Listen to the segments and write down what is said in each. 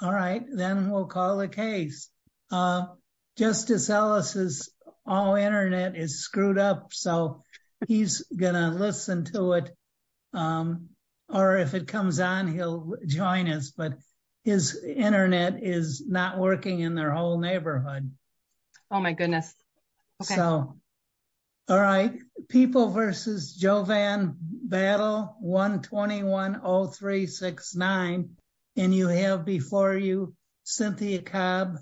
All right, then we'll call the case justice. Ellis is all Internet is screwed up. So he's going to listen to it. Um, or if it comes on, he'll join us, but. His Internet is not working in their whole neighborhood. Oh, my goodness. So. All right, people versus Jovan battle 1, 210369. And you have before you Cynthia Cobb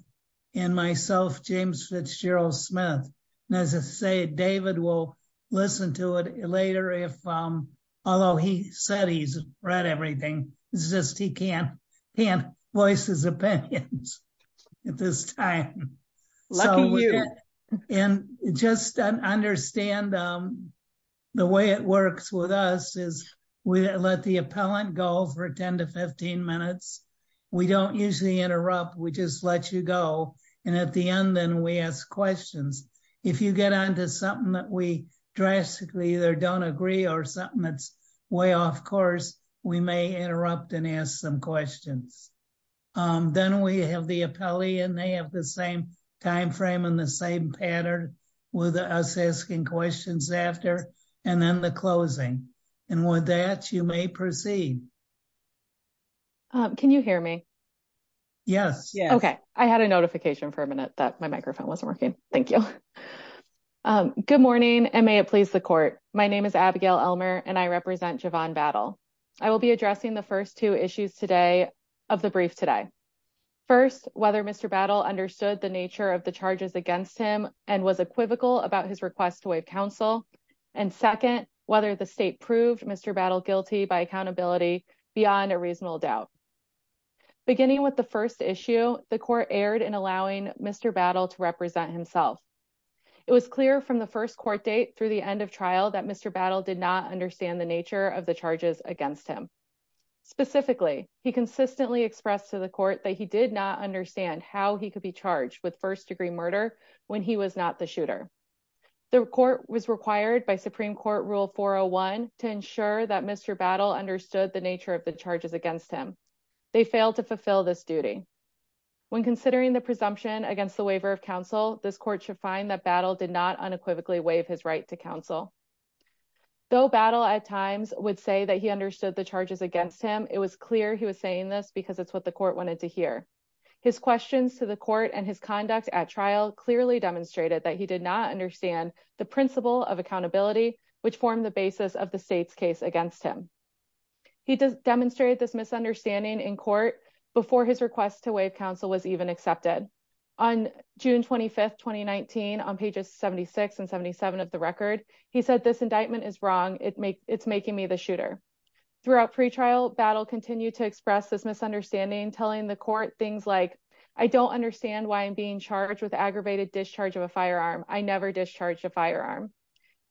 and myself, James Fitzgerald Smith, and as I say, David will listen to it later. If, um, although he said, he's read everything is just he can't can't voice his opinions at this time. So, and just understand. The way it works with us is we let the appellant go for 10 to 15 minutes. We don't usually interrupt, we just let you go. And at the end, then we ask questions. If you get on to something that we drastically either don't agree or something that's way off course, we may interrupt and ask some questions. Then we have the appellee and they have the same time frame and the same pattern with us asking questions after and then the closing. And with that, you may proceed. Can you hear me? Yes. Yeah. Okay. I had a notification for a minute that my microphone wasn't working. Thank you. Good morning and may it please the court. My name is Abigail Elmer and I represent Javon battle. I will be addressing the 1st, 2 issues today of the brief today. 1st, whether Mr battle understood the nature of the charges against him and was equivocal about his request to wait counsel and 2nd, whether the state proved Mr battle guilty by accountability beyond a reasonable doubt. Beginning with the 1st issue, the court aired and allowing Mr battle to represent himself. It was clear from the 1st court date through the end of trial that Mr battle did not understand the nature of the charges against him. Specifically, he consistently expressed to the court that he did not understand how he could be charged with 1st degree murder when he was not the shooter. The court was required by Supreme court rule 401 to ensure that Mr battle understood the nature of the charges against him. They failed to fulfill this duty when considering the presumption against the waiver of counsel, this court should find that battle did not unequivocally waive his right to counsel. Though battle at times would say that he understood the charges against him. It was clear. He was saying this because it's what the court wanted to hear. His questions to the court and his conduct at trial clearly demonstrated that he did not understand the principle of accountability, which formed the basis of the state's case against him. He demonstrated this misunderstanding in court before his request to waive counsel was even accepted on June 25th, 2019 on pages 76 and 77 of the record. He said this indictment is wrong. It make it's making me the shooter throughout pre trial battle continue to express this misunderstanding, telling the court things like, I don't understand why I'm being charged with aggravated discharge of a firearm. I never discharged a firearm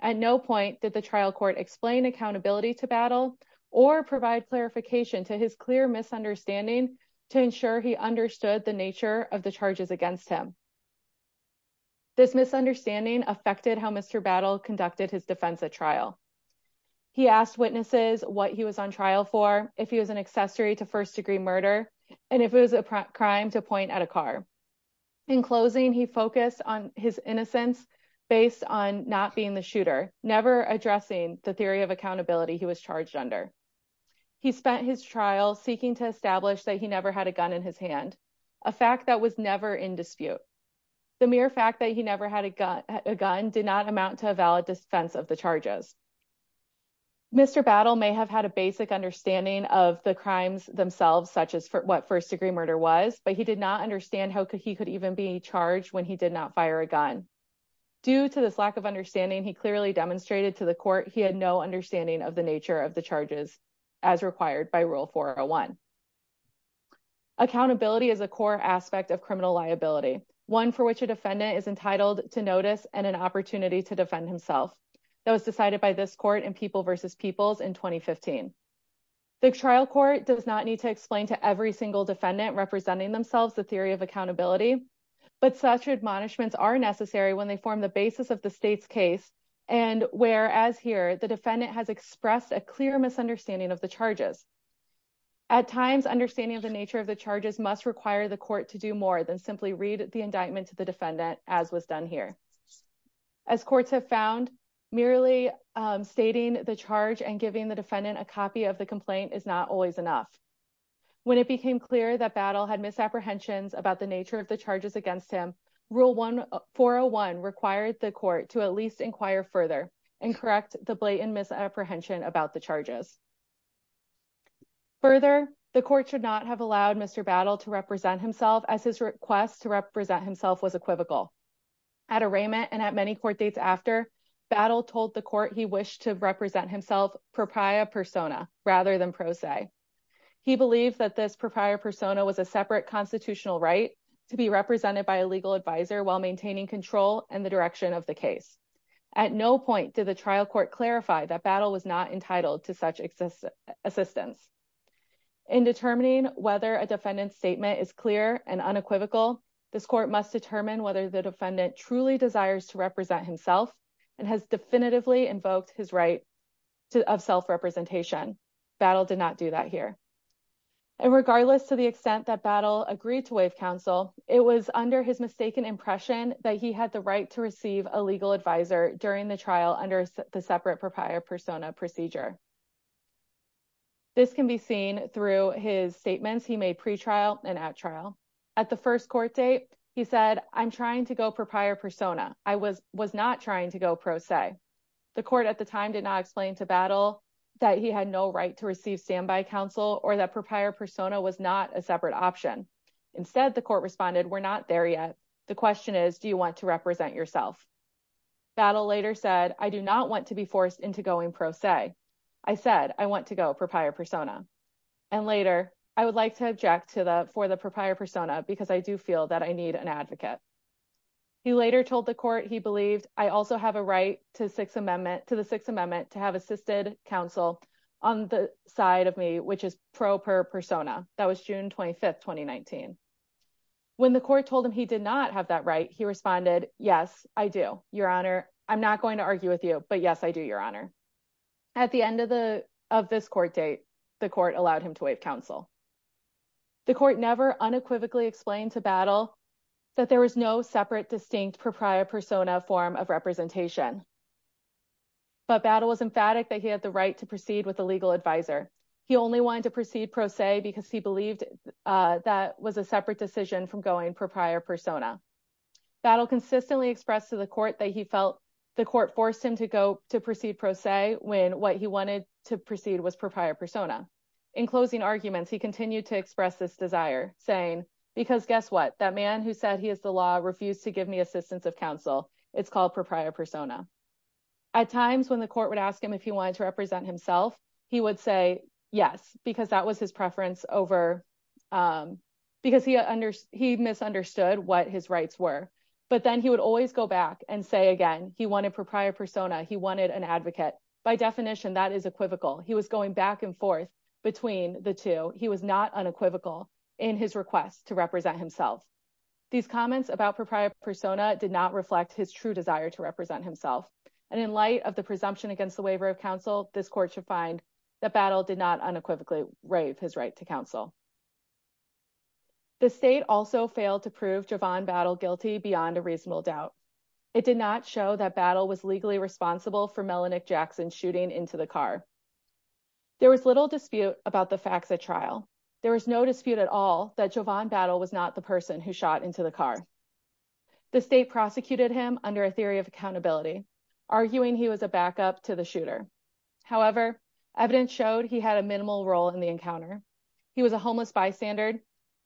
at no point that the trial court explain accountability to battle or provide clarification to his clear misunderstanding to ensure he understood the nature of the charges against him. This misunderstanding affected how Mr battle conducted his defense at trial. He asked witnesses what he was on trial for if he was an accessory to 1st degree murder and if it was a crime to point at a car. In closing, he focused on his innocence based on not being the shooter never addressing the theory of accountability. He was charged under. He spent his trial seeking to establish that he never had a gun in his hand a fact that was never in dispute the mere fact that he never had a gun a gun did not amount to a valid defense of the charges. Mr battle may have had a basic understanding of the crimes themselves, such as what 1st degree murder was, but he did not understand how could he could even be charged when he did not fire a gun. Due to this lack of understanding, he clearly demonstrated to the court. He had no understanding of the nature of the charges as required by rule for a 1. Accountability is a core aspect of criminal liability, one for which a defendant is entitled to notice and an opportunity to defend himself that was decided by this court and people versus people's in 2015. The trial court does not need to explain to every single defendant representing themselves the theory of accountability. But such admonishments are necessary when they form the basis of the state's case and whereas here the defendant has expressed a clear misunderstanding of the charges. At times, understanding of the nature of the charges must require the court to do more than simply read the indictment to the defendant as was done here. As courts have found merely stating the charge and giving the defendant, a copy of the complaint is not always enough. When it became clear that battle had misapprehensions about the nature of the charges against him rule 1401 required the court to at least inquire further and correct the blatant misapprehension about the charges. Further, the court should not have allowed Mr battle to represent himself as his request to represent himself was equivocal. At arraignment and at many court dates after battle told the court, he wished to represent himself proprietor persona, rather than pro se. He believes that this proprietor persona was a separate constitutional right to be represented by a legal advisor, while maintaining control and the direction of the case. At no point to the trial court clarify that battle was not entitled to such existence assistance. In determining whether a defendant statement is clear and unequivocal this court must determine whether the defendant truly desires to represent himself and has definitively invoked his right to have self representation battle did not do that here. Regardless, to the extent that battle agreed to waive counsel, it was under his mistaken impression that he had the right to receive a legal advisor during the trial under the separate proprietor persona procedure. This can be seen through his statements, he may pre trial and at trial at the first court date, he said i'm trying to go proprietor persona, I was was not trying to go pro se. The Court at the time did not explain to battle that he had no right to receive standby counsel or that proprietor persona was not a separate option. Instead, the Court responded we're not there, yet the question is, do you want to represent yourself battle later said, I do not want to be forced into going pro se I said I want to go proprietor persona. And later, I would like to object to the for the proprietor persona, because I do feel that I need an advocate. He later told the Court, he believed, I also have a right to Sixth Amendment to the Sixth Amendment to have assisted counsel on the side of me, which is proper persona that was June 25 2019. When the Court told him, he did not have that right he responded, yes, I do, Your Honor i'm not going to argue with you, but, yes, I do, Your Honor at the end of the of this court date the Court allowed him to wait counsel. The Court never unequivocally explained to battle that there was no separate distinct proprietor persona form of representation. But battle was emphatic that he had the right to proceed with the legal advisor he only wanted to proceed pro se because he believed that was a separate decision from going proprietor persona. battle consistently expressed to the Court that he felt the Court forced him to go to proceed pro se when what he wanted to proceed was proprietor persona. In closing arguments, he continued to express this desire saying because guess what that man who said he is the law refused to give me assistance of counsel it's called proprietor persona. At times when the Court would ask him if he wanted to represent himself, he would say yes, because that was his preference over. Because he understood he misunderstood what his rights were, but then he would always go back and say again, he wanted proprietor persona he wanted an advocate by definition that is equivocal he was going back and forth. Between the two he was not unequivocal in his request to represent himself these comments about proprietor persona did not reflect his true desire to represent himself. And in light of the presumption against the waiver of counsel this Court should find that battle did not unequivocally rave his right to counsel. The state also failed to prove javon battle guilty beyond a reasonable doubt it did not show that battle was legally responsible for melanin Jackson shooting into the car. There was little dispute about the facts at trial, there was no dispute at all that javon battle was not the person who shot into the car. The state prosecuted him under a theory of accountability arguing, he was a backup to the shooter, however, evidence showed he had a minimal role in the encounter. He was a homeless by standard,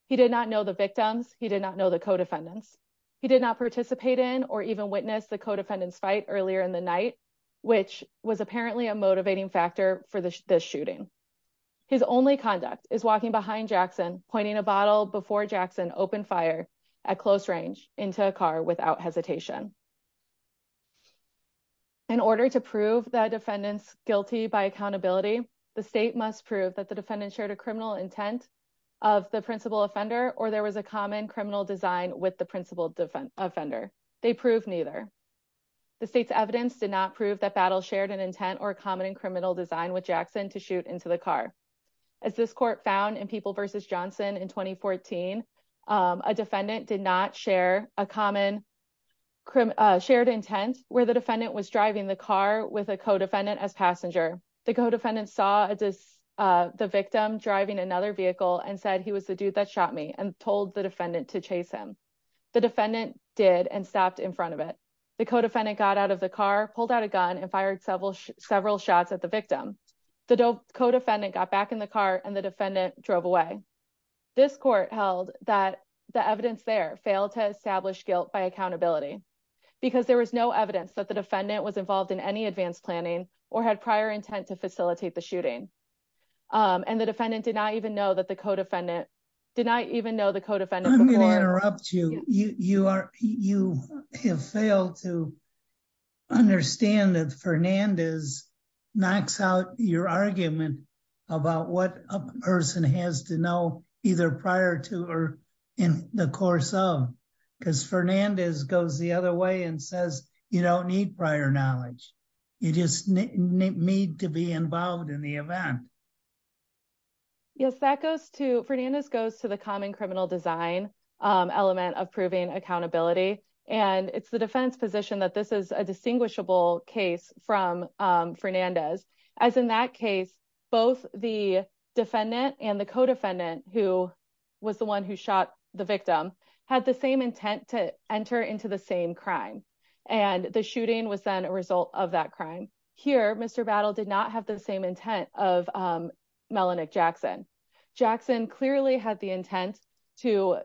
he did not know the victims, he did not know the co defendants, he did not participate in or even witness the co defendants fight earlier in the night. Which was apparently a motivating factor for the shooting his only conduct is walking behind Jackson pointing a bottle before Jackson open fire at close range into a car without hesitation. In order to prove that defendants guilty by accountability, the state must prove that the defendant shared a criminal intent. Of the principal offender or there was a common criminal design with the principal defend offender they prove neither. The state's evidence did not prove that battle shared an intent or common and criminal design with Jackson to shoot into the car. As this court found and people versus Johnson in 2014 a defendant did not share a common. crim shared intent where the defendant was driving the car with a co defendant as passenger the co defendant saw this. The victim driving another vehicle and said he was the dude that shot me and told the defendant to chase him. The defendant did and stopped in front of it, the co defendant got out of the car pulled out a gun and fired several several shots at the victim. The co defendant got back in the car and the defendant drove away this court held that the evidence there failed to establish guilt by accountability. Because there was no evidence that the defendant was involved in any advanced planning or had prior intent to facilitate the shooting and the defendant did not even know that the co defendant did not even know the co defendant. I'm going to interrupt you, you are, you have failed to understand that Fernandez knocks out your argument about what a person has to know either prior to or in the course of because Fernandez goes the other way and says you don't need prior knowledge you just need to be involved in the event. Yes, that goes to Fernandez goes to the common criminal design element of proving accountability and it's the defense position that this is a distinguishable case from Fernandez as in that case, both the defendant and the co defendant, who was the one who shot the victim had the same intent to enter into the same crime and the shooting was then a result of that crime here, Mr battle did not have the same intent of. melanin Jackson Jackson clearly had the intent to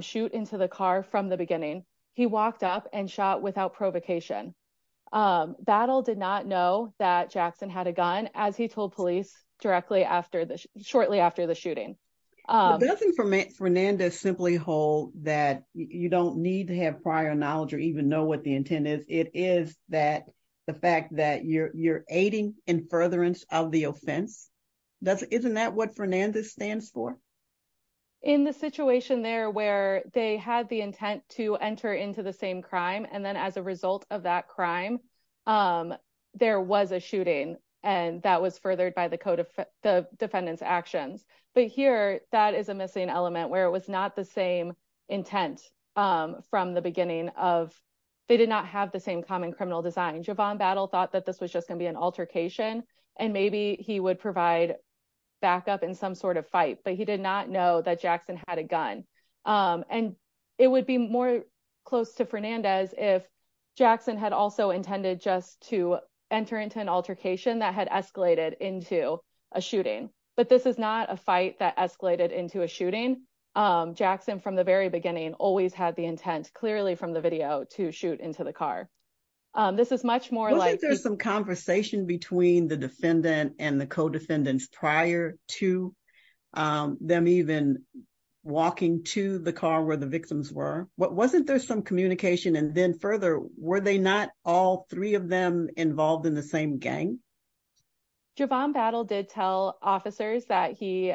shoot into the car from the beginning, he walked up and shot without provocation battle did not know that Jackson had a gun, as he told police directly after this shortly after the shooting. Nothing from Fernandez simply hold that you don't need to have prior knowledge or even know what the intent is, it is that the fact that you're you're aiding in furtherance of the offense doesn't isn't that what Fernandez stands for. In the situation there where they had the intent to enter into the same crime and then as a result of that crime. There was a shooting and that was furthered by the code of the defendants actions, but here, that is a missing element, where it was not the same intent. From the beginning of they did not have the same common criminal design javon battle thought that this was just going to be an altercation and maybe he would provide. backup in some sort of fight, but he did not know that Jackson had a gun and it would be more close to Fernandez if. Jackson had also intended just to enter into an altercation that had escalated into a shooting, but this is not a fight that escalated into a shooting Jackson from the very beginning, always had the intent clearly from the video to shoot into the car, this is much more like there's some conversation between the defendant and the co defendants prior to. them even walking to the car where the victims were what wasn't there some communication and then further were they not all three of them involved in the same gang. javon battle did tell officers that he.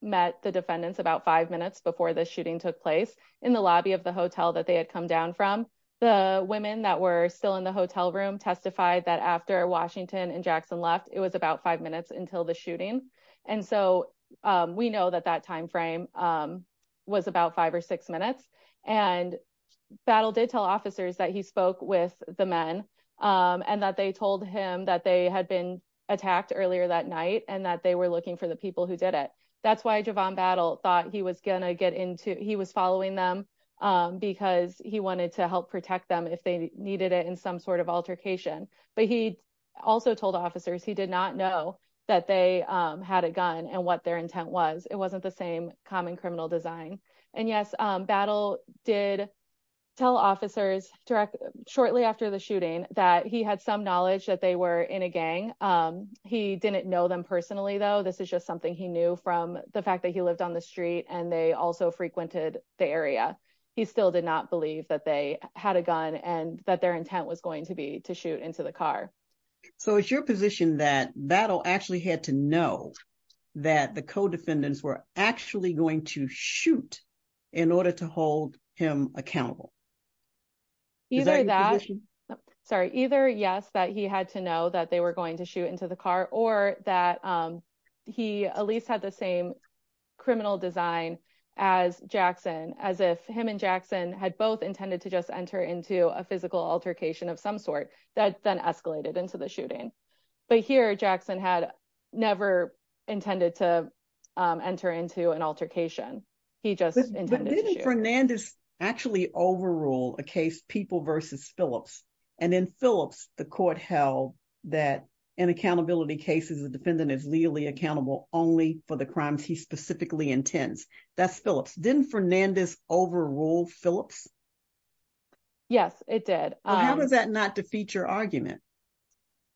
met the defendants about five minutes before the shooting took place in the lobby of the hotel that they had come down from. The women that were still in the hotel room testified that after Washington and Jackson left it was about five minutes until the shooting, and so we know that that timeframe. was about five or six minutes and battle did tell officers that he spoke with the men. And that they told him that they had been attacked earlier that night and that they were looking for the people who did it that's why javon battle thought he was gonna get into he was following them. Because he wanted to help protect them if they needed it in some sort of altercation, but he also told officers, he did not know that they. had a gun and what their intent was it wasn't the same common criminal design and, yes, battle did tell officers directly shortly after the shooting that he had some knowledge that they were in a gang. He didn't know them personally, though, this is just something he knew from the fact that he lived on the street and they also frequented the area, he still did not believe that they had a gun and that their intent was going to be to shoot into the car. So it's your position that battle actually had to know that the CO defendants were actually going to shoot in order to hold him accountable. Either that sorry either yes, that he had to know that they were going to shoot into the car or that he at least had the same. criminal design as Jackson as if him and Jackson had both intended to just enter into a physical altercation of some sort that then escalated into the shooting but here Jackson had never intended to enter into an altercation he just. intended Fernandes actually overrule a case people versus Phillips and then Phillips the Court held that an accountability cases the defendant is legally accountable only for the crimes he specifically intends that's Phillips didn't Fernandes overrule Phillips. Yes, it did that not to feature argument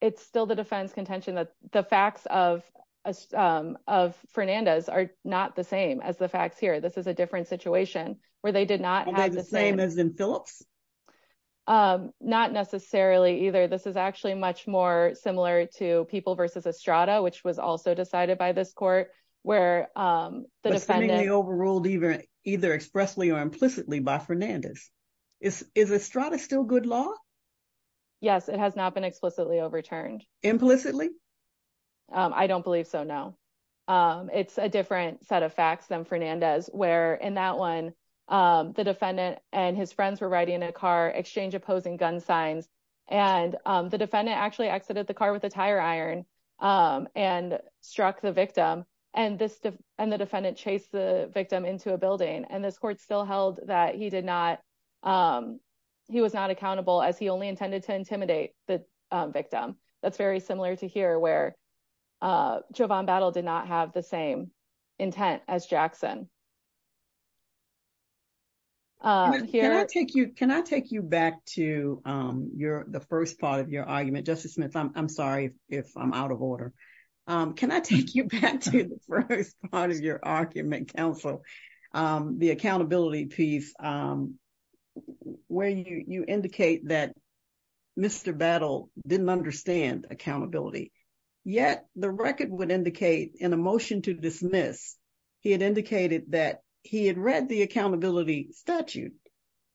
it's still the defense contention that the facts of. of Fernandes are not the same as the facts here, this is a different situation, where they did not have the same as in Phillips. Not necessarily either this is actually much more similar to people versus a strata which was also decided by this Court where. The defending the overruled either either expressly or implicitly by Fernandes is is a strata still good law. Yes, it has not been explicitly overturned. implicitly. I don't believe so no it's a different set of facts them Fernandes where in that one the defendant and his friends were riding in a car exchange opposing gun signs. And the defendant actually exited the car with a tire iron and struck the victim and this and the defendant chase the victim into a building and this Court still held that he did not. He was not accountable, as he only intended to intimidate the victim that's very similar to hear where. jovon battle did not have the same intent as Jackson. Here, I take you, can I take you back to your the first part of your argument justice Smith i'm sorry if i'm out of order, can I take you back to the first part of your argument Council the accountability piece. Where you indicate that Mr battle didn't understand accountability, yet the record would indicate in a motion to dismiss he had indicated that he had read the accountability statute.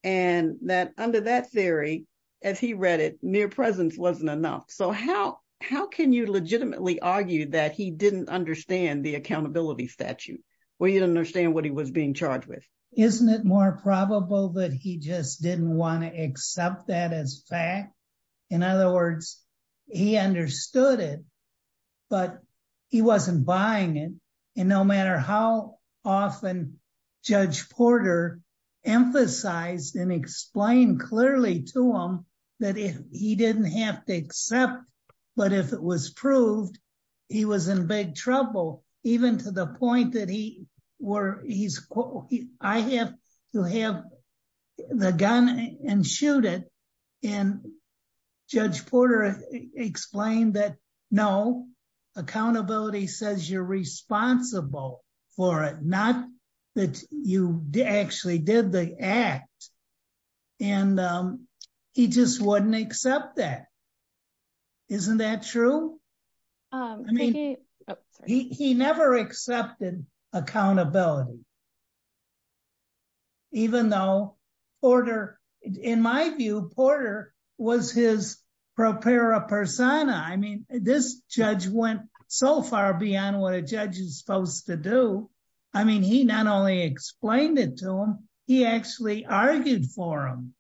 And that under that theory, as he read it near presence wasn't enough, so how, how can you legitimately argue that he didn't understand the accountability statute where you don't understand what he was being charged with. Isn't it more probable that he just didn't want to accept that as fact, in other words, he understood it, but he wasn't buying it and no matter how often. Judge Porter emphasized and explain clearly to him that if he didn't have to accept, but if it was proved, he was in big trouble, even to the point that he were he's I have to have the gun and shoot it and. Judge Porter explained that no accountability says you're responsible for it, not that you actually did the act and he just wouldn't accept that. isn't that true. He never accepted accountability. Even though order in my view Porter was his prepare a person, I mean this judge went so far beyond what a judge is supposed to do, I mean he not only explained it to him, he actually argued for him.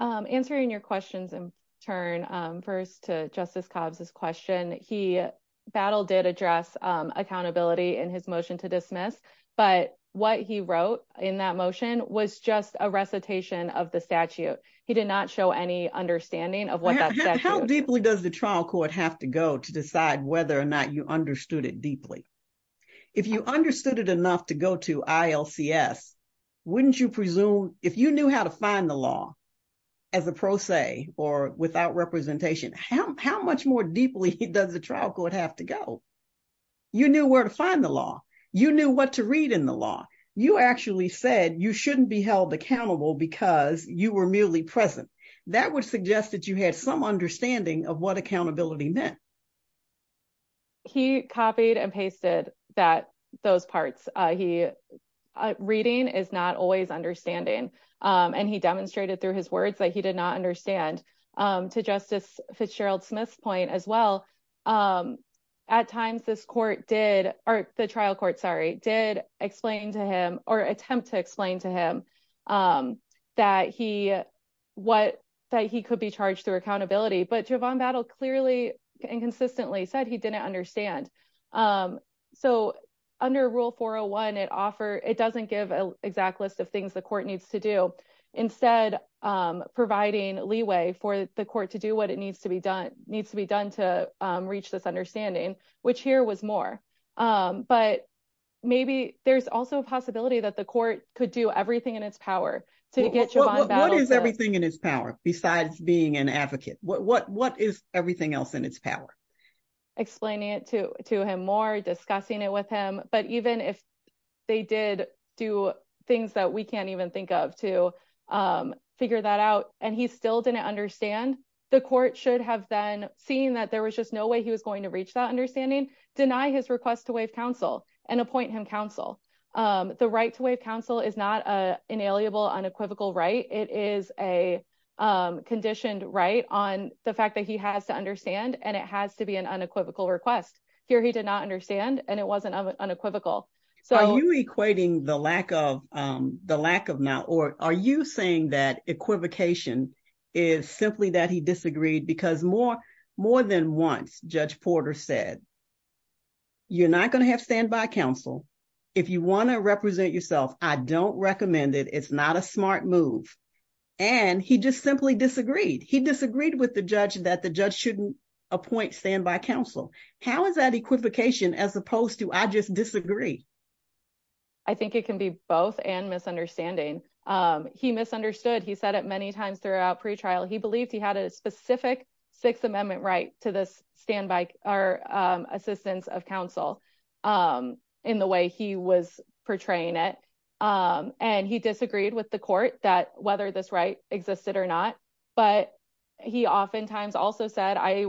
i'm answering your questions and turn first to justice cobs this question he battled did address accountability and his motion to dismiss, but what he wrote in that motion was just a recitation of the statute, he did not show any understanding of. How deeply does the trial court have to go to decide whether or not you understood it deeply if you understood it enough to go to ILC yes. wouldn't you presume if you knew how to find the law as a pro se or without representation how much more deeply does the trial court have to go. You knew where to find the law, you knew what to read in the law, you actually said you shouldn't be held accountable, because you were merely present that would suggest that you had some understanding of what accountability meant. He copied and pasted that those parts he reading is not always understanding and he demonstrated through his words that he did not understand to justice Fitzgerald Smith's point as well. At times, this court did or the trial court sorry did explain to him or attempt to explain to him. That he what that he could be charged through accountability, but you have on battle clearly and consistently said he didn't understand. So under rule for a one it offer it doesn't give an exact list of things the Court needs to do instead. Providing leeway for the Court to do what it needs to be done needs to be done to reach this understanding, which here was more, but maybe there's also a possibility that the Court could do everything in its power to get you. What is everything in his power, besides being an advocate what what what is everything else in its power. Explaining it to to him more discussing it with him, but even if they did do things that we can't even think of to. figure that out, and he still didn't understand the Court should have been seeing that there was just no way he was going to reach that understanding deny his request to waive counsel and appoint him counsel. The right to waive counsel is not a inalienable unequivocal right, it is a conditioned right on the fact that he has to understand, and it has to be an unequivocal request here, he did not understand, and it wasn't unequivocal. So equating the lack of the lack of now or are you saying that equivocation is simply that he disagreed because more more than once judge Porter said. you're not going to have standby counsel if you want to represent yourself I don't recommend it it's not a smart move. And he just simply disagreed he disagreed with the judge that the judge shouldn't appoint stand by counsel, how is that equivocation, as opposed to I just disagree. I think it can be both and misunderstanding he misunderstood he said it many times throughout pre trial, he believed he had a specific Sixth Amendment right to this standby or assistance of counsel. In the way he was portraying it and he disagreed with the Court that whether this right existed or not, but he oftentimes also said, I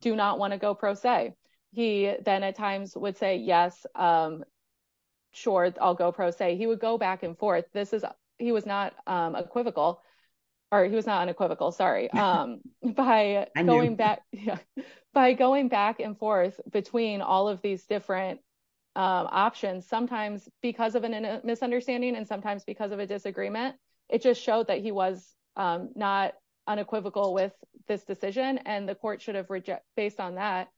do not want to go pro se he then at times would say yes. Sure, I'll go pro say he would go back and forth, this is, he was not equivocal or he was not unequivocal sorry by going back. By going back and forth between all of these different options, sometimes because of a misunderstanding and sometimes because of a disagreement, it just showed that he was not unequivocal with this decision and the Court should have reject based on that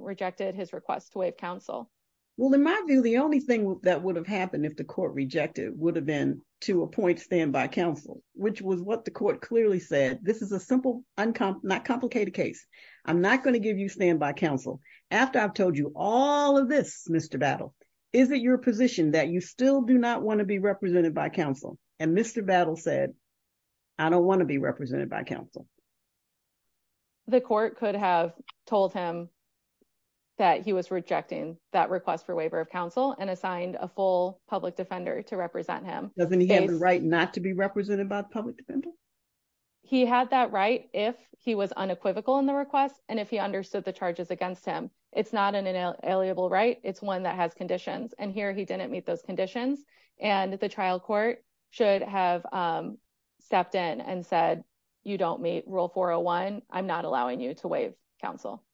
rejected his request to waive counsel. Well, in my view, the only thing that would have happened if the Court rejected would have been to appoint stand by counsel, which was what the Court clearly said, this is a simple uncomplicated case. i'm not going to give you stand by counsel after i've told you all of this, Mr battle, is it your position that you still do not want to be represented by counsel and Mr battle said I don't want to be represented by counsel. The Court could have told him. That he was rejecting that request for waiver of counsel and assigned a full public defender to represent him. doesn't he have a right not to be represented by public. He had that right if he was unequivocal in the request, and if he understood the charges against him it's not an inalienable right it's one that has conditions and here he didn't meet those conditions and the trial court should have. stepped in and said you don't meet rule 401 i'm not allowing you to waive counsel.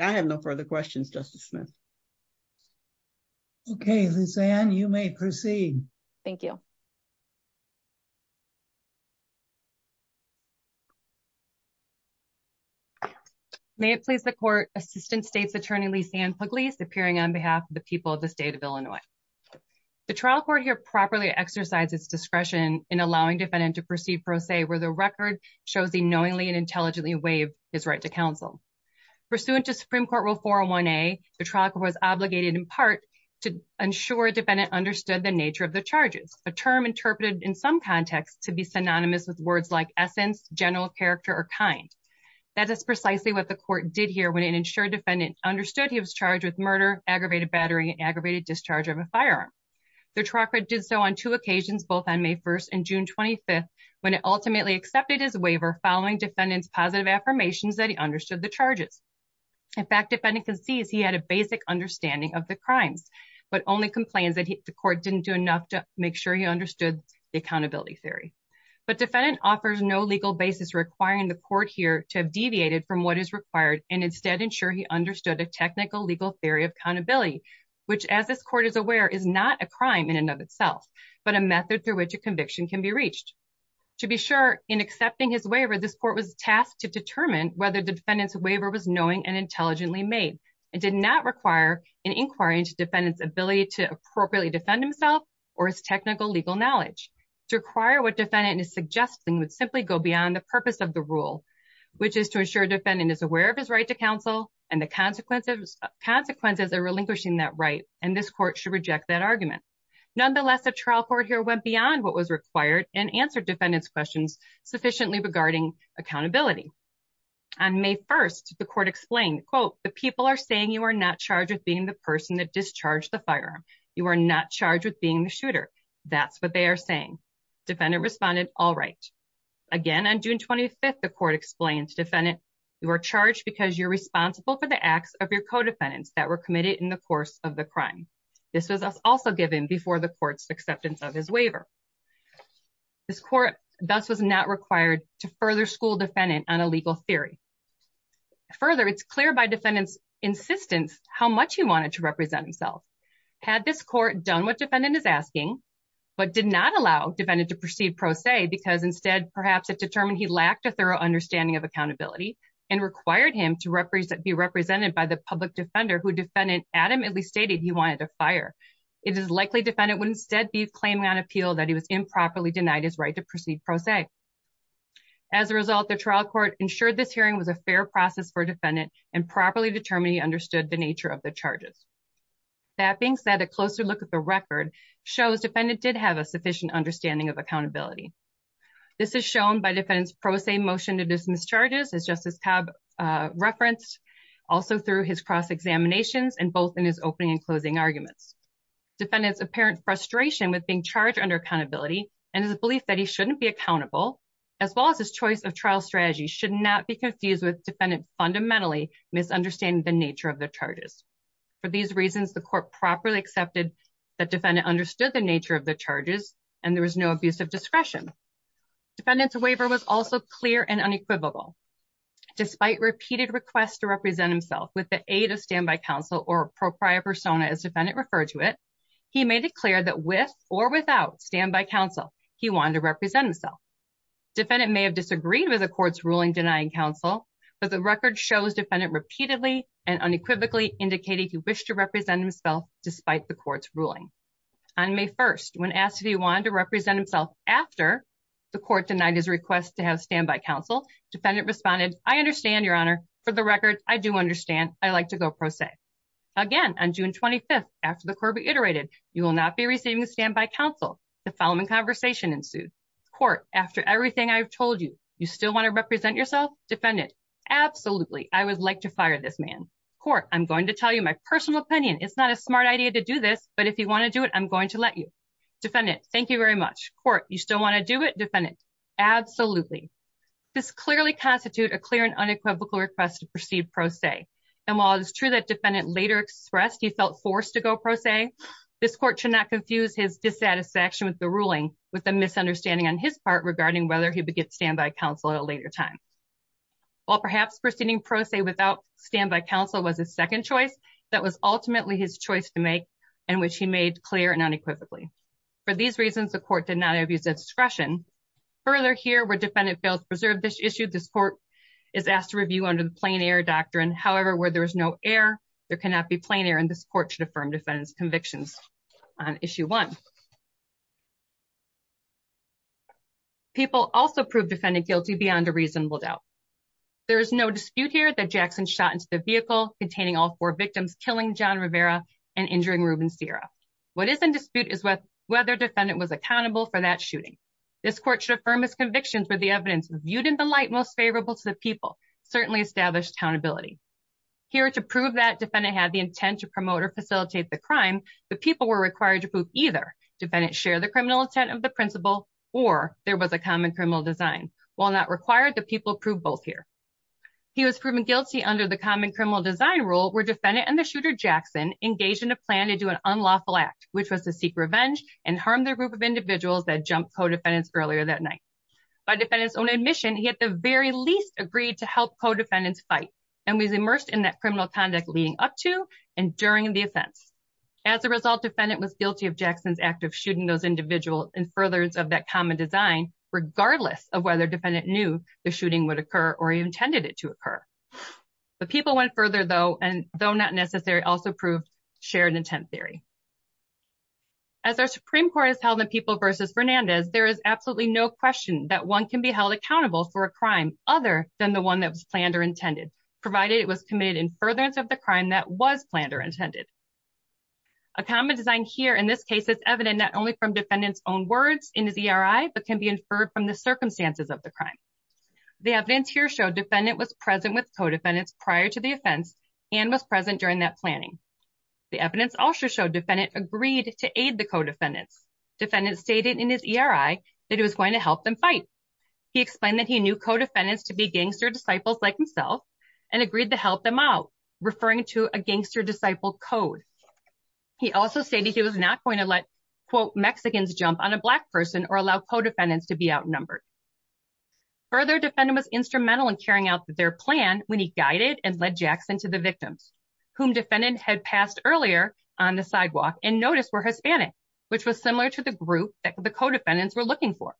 I have no further questions justice Smith. Okay, and you may proceed. Thank you. Thank you. May it please the Court assistant states attorney Lisa and police appearing on behalf of the people of the state of Illinois. The trial court here properly exercises discretion in allowing defendant to proceed for a say where the record shows the knowingly and intelligently wave is right to counsel. pursuant to Supreme Court rule 401 a truck was obligated in part to ensure defendant understood the nature of the charges a term interpreted in some context to be synonymous with words like essence general character or kind. That is precisely what the Court did here when an insured defendant understood he was charged with murder aggravated battery aggravated discharge of a firearm. The trucker did so on two occasions, both on may 1 and June 25 when it ultimately accepted his waiver following defendants positive affirmations that he understood the charges. In fact, if anything, sees he had a basic understanding of the crimes, but only complains that the Court didn't do enough to make sure you understood the accountability theory. But defendant offers no legal basis requiring the Court here to have deviated from what is required and instead ensure he understood a technical legal theory of accountability. Which, as this Court is aware, is not a crime in and of itself, but a method through which a conviction can be reached. To be sure in accepting his waiver this Court was tasked to determine whether the defendants waiver was knowing and intelligently made. It did not require an inquiry into defendants ability to appropriately defend himself or his technical legal knowledge to require what defendant is suggesting would simply go beyond the purpose of the rule. Which is to ensure defendant is aware of his right to counsel and the consequences consequences are relinquishing that right and this Court should reject that argument. Nonetheless, a trial court here went beyond what was required and answer defendants questions sufficiently regarding accountability. On may 1 the Court explained quote the people are saying you are not charged with being the person that discharged the firearm, you are not charged with being the shooter that's what they are saying. Defendant responded all right again on June 25 the Court explains defendant you are charged because you're responsible for the acts of your co defendants that were committed in the course of the crime, this was also given before the courts acceptance of his waiver. This Court does was not required to further school defendant on a legal theory. Further it's clear by defendants insistence how much he wanted to represent himself had this Court done what defendant is asking. But did not allow defendant to proceed pro se because, instead, perhaps it determined he lacked a thorough understanding of accountability. and required him to represent be represented by the public defender who defendant adamantly stated, he wanted to fire. It is likely defendant would instead be claiming on appeal that he was improperly denied his right to proceed pro se. As a result, the trial court ensured this hearing was a fair process for defendant and properly determined he understood the nature of the charges. That being said, a closer look at the record shows defendant did have a sufficient understanding of accountability. This is shown by defendants pro se motion to dismiss charges as justice have referenced also through his cross examinations and both in his opening and closing arguments. Defendants apparent frustration with being charged under accountability and his belief that he shouldn't be accountable. As well as his choice of trial strategy should not be confused with defendant fundamentally misunderstanding the nature of the charges. For these reasons, the Court properly accepted that defendant understood the nature of the charges and there was no abuse of discretion. Defendants waiver was also clear and unequivocal despite repeated requests to represent himself with the aid of standby counsel or proprietary persona as defendant referred to it. He made it clear that with or without standby counsel, he wanted to represent himself. Defendant may have disagreed with the court's ruling denying counsel, but the record shows defendant repeatedly and unequivocally indicated he wished to represent himself, despite the court's ruling. On May 1 when asked if he wanted to represent himself after the court denied his request to have standby counsel defendant responded, I understand, Your Honor, for the record, I do understand, I like to go pro se. Again, on June 25 after the court reiterated, you will not be receiving standby counsel, the following conversation ensued. Court, after everything I've told you, you still want to represent yourself? Defendant, absolutely. I would like to fire this man. Court, I'm going to tell you my personal opinion. It's not a smart idea to do this, but if you want to do it, I'm going to let you. Defendant, thank you very much. Court, you still want to do it? Defendant, absolutely. This clearly constitute a clear and unequivocal request to proceed pro se, and while it is true that defendant later expressed he felt forced to go pro se, this court should not confuse his dissatisfaction with the ruling with a misunderstanding on his part regarding whether he would get standby counsel at a later time. While perhaps proceeding pro se without standby counsel was a second choice, that was ultimately his choice to make and which he made clear and unequivocally. For these reasons, the court did not abuse discretion. Further here, where defendant failed to preserve this issue, this court is asked to review under the plain air doctrine. However, where there is no air, there cannot be plain air, and this court should affirm defendant's convictions on issue one. People also proved defendant guilty beyond a reasonable doubt. There is no dispute here that Jackson shot into the vehicle containing all four victims, killing John Rivera and injuring Ruben Sierra. What is in dispute is whether defendant was accountable for that shooting. This court should affirm his convictions were the evidence viewed in the light most favorable to the people, certainly established accountability. Here to prove that defendant had the intent to promote or facilitate the crime, the people were required to prove either defendant share the criminal intent of the principle or there was a common criminal design. While not required, the people proved both here. He was proven guilty under the common criminal design rule where defendant and the shooter Jackson engaged in a plan to do an unlawful act, which was to seek revenge and harm the group of individuals that jumped co-defendants earlier that night. By defendant's own admission, he at the very least agreed to help co-defendants fight and was immersed in that criminal conduct leading up to and during the offense. As a result, defendant was guilty of Jackson's act of shooting those individuals in furtherance of that common design, regardless of whether defendant knew the shooting would occur or intended it to occur. The people went further, though, and though not necessary, also proved shared intent theory. As our Supreme Court has held the people versus Fernandez, there is absolutely no question that one can be held accountable for a crime other than the one that was planned or intended, provided it was committed in furtherance of the crime that was planned or intended. A common design here in this case is evident not only from defendant's own words in his ERI, but can be inferred from the circumstances of the crime. The evidence here showed defendant was present with co-defendants prior to the offense and was present during that planning. The evidence also showed defendant agreed to aid the co-defendants. Defendant stated in his ERI that he was going to help them fight. He explained that he knew co-defendants to be gangster disciples like himself and agreed to help them out, referring to a gangster disciple code. He also stated he was not going to let, quote, Mexicans jump on a black person or allow co-defendants to be outnumbered. Further, defendant was instrumental in carrying out their plan when he guided and led Jackson to the victims, whom defendant had passed earlier on the sidewalk and noticed were Hispanic, which was similar to the group that the co-defendants were looking for.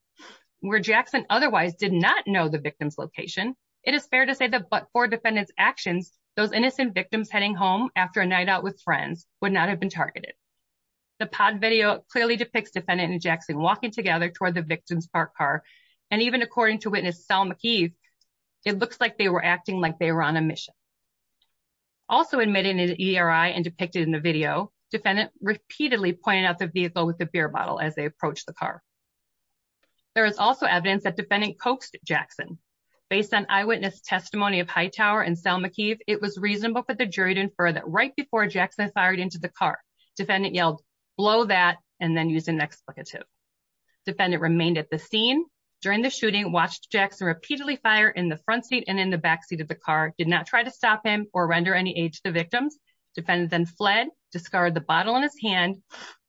Where Jackson otherwise did not know the victim's location, it is fair to say that but for defendant's actions, those innocent victims heading home after a night out with friends would not have been targeted. The pod video clearly depicts defendant and Jackson walking together toward the victim's parked car and even according to witness Sel McKeith, it looks like they were acting like they were on a mission. Also admitted in an ERI and depicted in the video, defendant repeatedly pointed out the vehicle with the beer bottle as they approached the car. There is also evidence that defendant coaxed Jackson. Based on eyewitness testimony of Hightower and Sel McKeith, it was reasonable for the jury to infer that right before Jackson fired into the car, defendant yelled, blow that, and then used an expletive. Defendant remained at the scene. During the shooting, watched Jackson repeatedly fire in the front seat and in the back seat of the car, did not try to stop him or render any aid to the victims. Defendant then fled, discarded the bottle in his hand,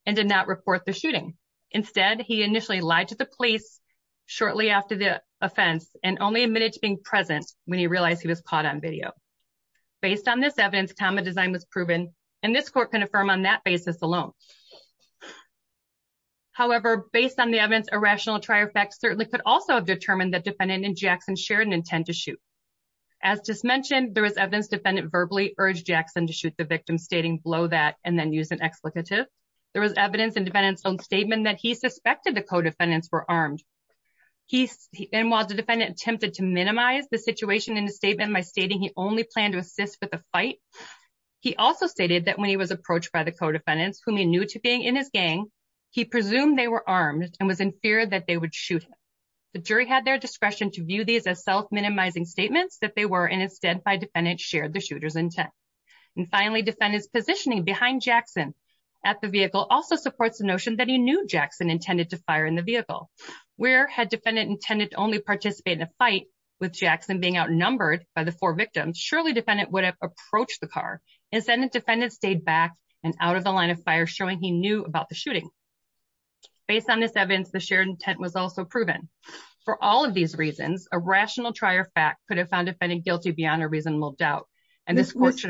and did not report the shooting. Instead, he initially lied to the police shortly after the offense and only admitted to being present when he realized he was caught on video. Based on this evidence, time of design was proven and this court can affirm on that basis alone. However, based on the evidence, irrational attire facts certainly could also have determined that defendant and Jackson shared an intent to shoot. As just mentioned, there was evidence defendant verbally urged Jackson to shoot the victim, stating, blow that, and then use an expletive. There was evidence in defendant's own statement that he suspected the co-defendants were armed. And while the defendant attempted to minimize the situation in the statement by stating he only planned to assist with the fight, he also stated that when he was approached by the co-defendants, whom he knew to being in his gang, he presumed they were armed and was in fear that they would shoot him. The jury had their discretion to view these as self-minimizing statements that they were and instead by defendant shared the shooter's intent. And finally, defendant's positioning behind Jackson at the vehicle also supports the notion that he knew Jackson intended to fire in the vehicle. Where had defendant intended to only participate in a fight with Jackson being outnumbered by the four victims, surely defendant would have approached the car and defendant stayed back and out of the line of fire showing he knew about the shooting. Based on this evidence, the shared intent was also proven. For all of these reasons, a rational attire fact could have found defendant guilty beyond a reasonable doubt. And this question,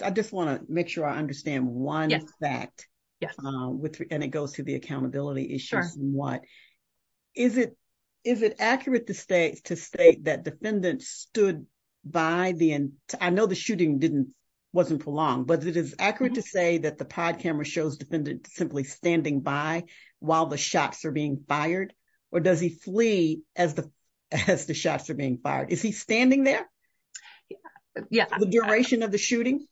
I just want to make sure I understand one fact. Yes. And it goes to the accountability issue somewhat. Is it accurate to state that defendant stood by the end, I know the shooting wasn't prolonged, but it is accurate to say that the pod camera shows defendant simply standing by while the shots are being fired or does he flee as the shots are being fired? Is he standing there? Yeah, the duration of the shooting.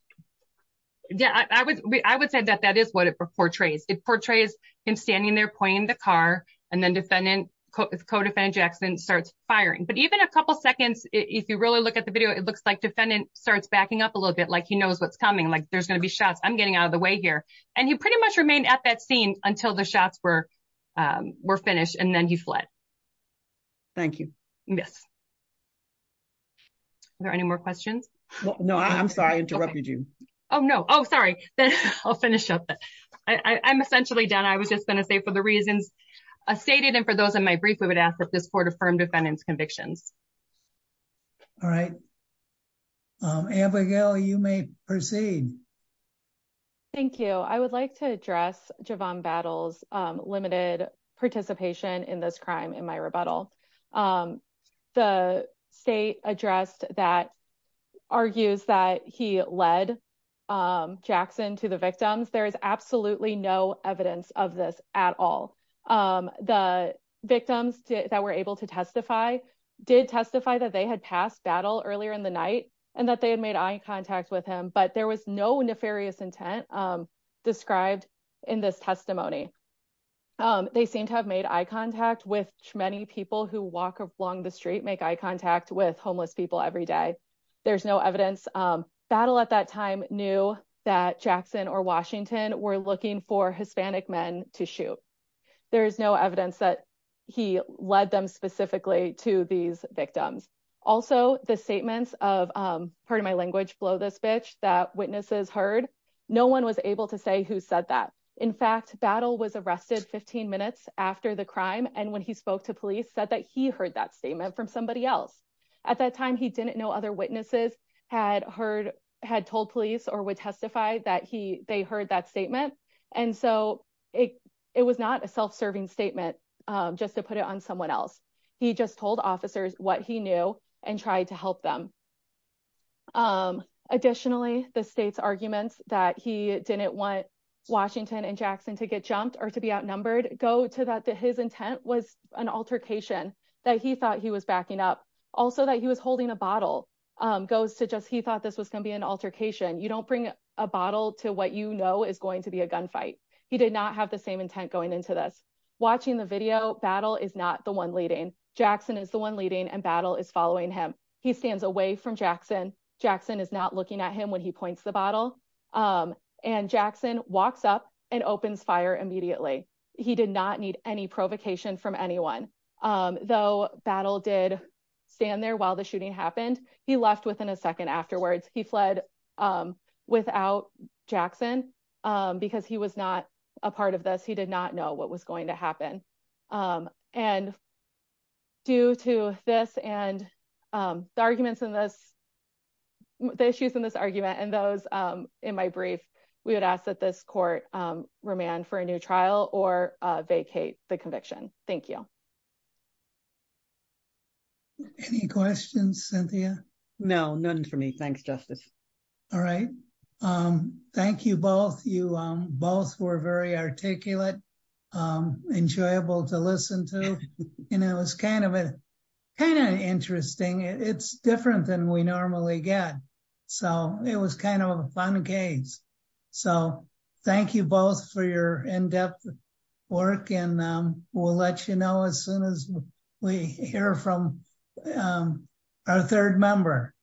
Yeah, I would say that that is what it portrays. It portrays him standing there pointing the car and then defendant, co-defendant Jackson starts firing. But even a couple seconds, if you really look at the video, it looks like defendant starts backing up a little bit, like he knows what's coming, like there's going to be shots. I'm getting out of the way here. And he pretty much remained at that scene until the shots were finished and then he fled. Thank you. Yes. Are there any more questions? No, I'm sorry. I interrupted you. Oh, no. Oh, sorry. I'll finish up. I'm essentially done. I was just going to say for the reasons stated and for those in my brief, we would ask that this court affirm defendant's convictions. All right. Abigail, you may proceed. Thank you. I would like to address Javon Battles' limited participation in this crime in my rebuttal. The state addressed that argues that he led Jackson to the victims. There is absolutely no evidence of this at all. The victims that were able to testify did testify that they had passed battle earlier in the night and that they had made eye contact with him, but there was no nefarious intent described in this testimony. They seem to have made eye contact with many people who walk along the street, make eye contact with homeless people every day. There's no evidence. Battle at that time knew that Jackson or Washington were looking for Hispanic men to shoot. There is no evidence that he led them specifically to these victims. Also the statements of pardon my language, blow this bitch, that witnesses heard, no one was able to say who said that. In fact, Battle was arrested 15 minutes after the crime and when he spoke to police said that he heard that statement from somebody else. At that time he didn't know other witnesses had told police or would testify that they heard that statement. And so it was not a self-serving statement just to put it on someone else. He just told officers what he knew and tried to help them. Additionally, the state's arguments that he didn't want Washington and Jackson to get jumped or to be outnumbered go to that his intent was an altercation that he thought he was backing up. Also that he was holding a bottle goes to just he thought this was going to be an altercation. You don't bring a bottle to what you know is going to be a gunfight. He did not have the same intent going into this. Watching the video, Battle is not the one leading. He stands away from Jackson. Jackson is not looking at him when he points the bottle. And Jackson walks up and opens fire immediately. He did not need any provocation from anyone. Though Battle did stand there while the shooting happened. He left within a second afterwards. He fled without Jackson because he was not a part of this. He did not know what was going to happen. And due to this and the arguments in this, the issues in this argument, and those in my brief, we would ask that this court remand for a new trial or vacate the conviction. Thank you. Any questions, Cynthia? No, none for me. Thanks, Justice. All right. Thank you both. You both were very articulate, enjoyable to listen to, and it was kind of interesting. It's different than we normally get. So it was kind of a fun case. So thank you both for your in-depth work and we'll let you know as soon as we hear from our third member.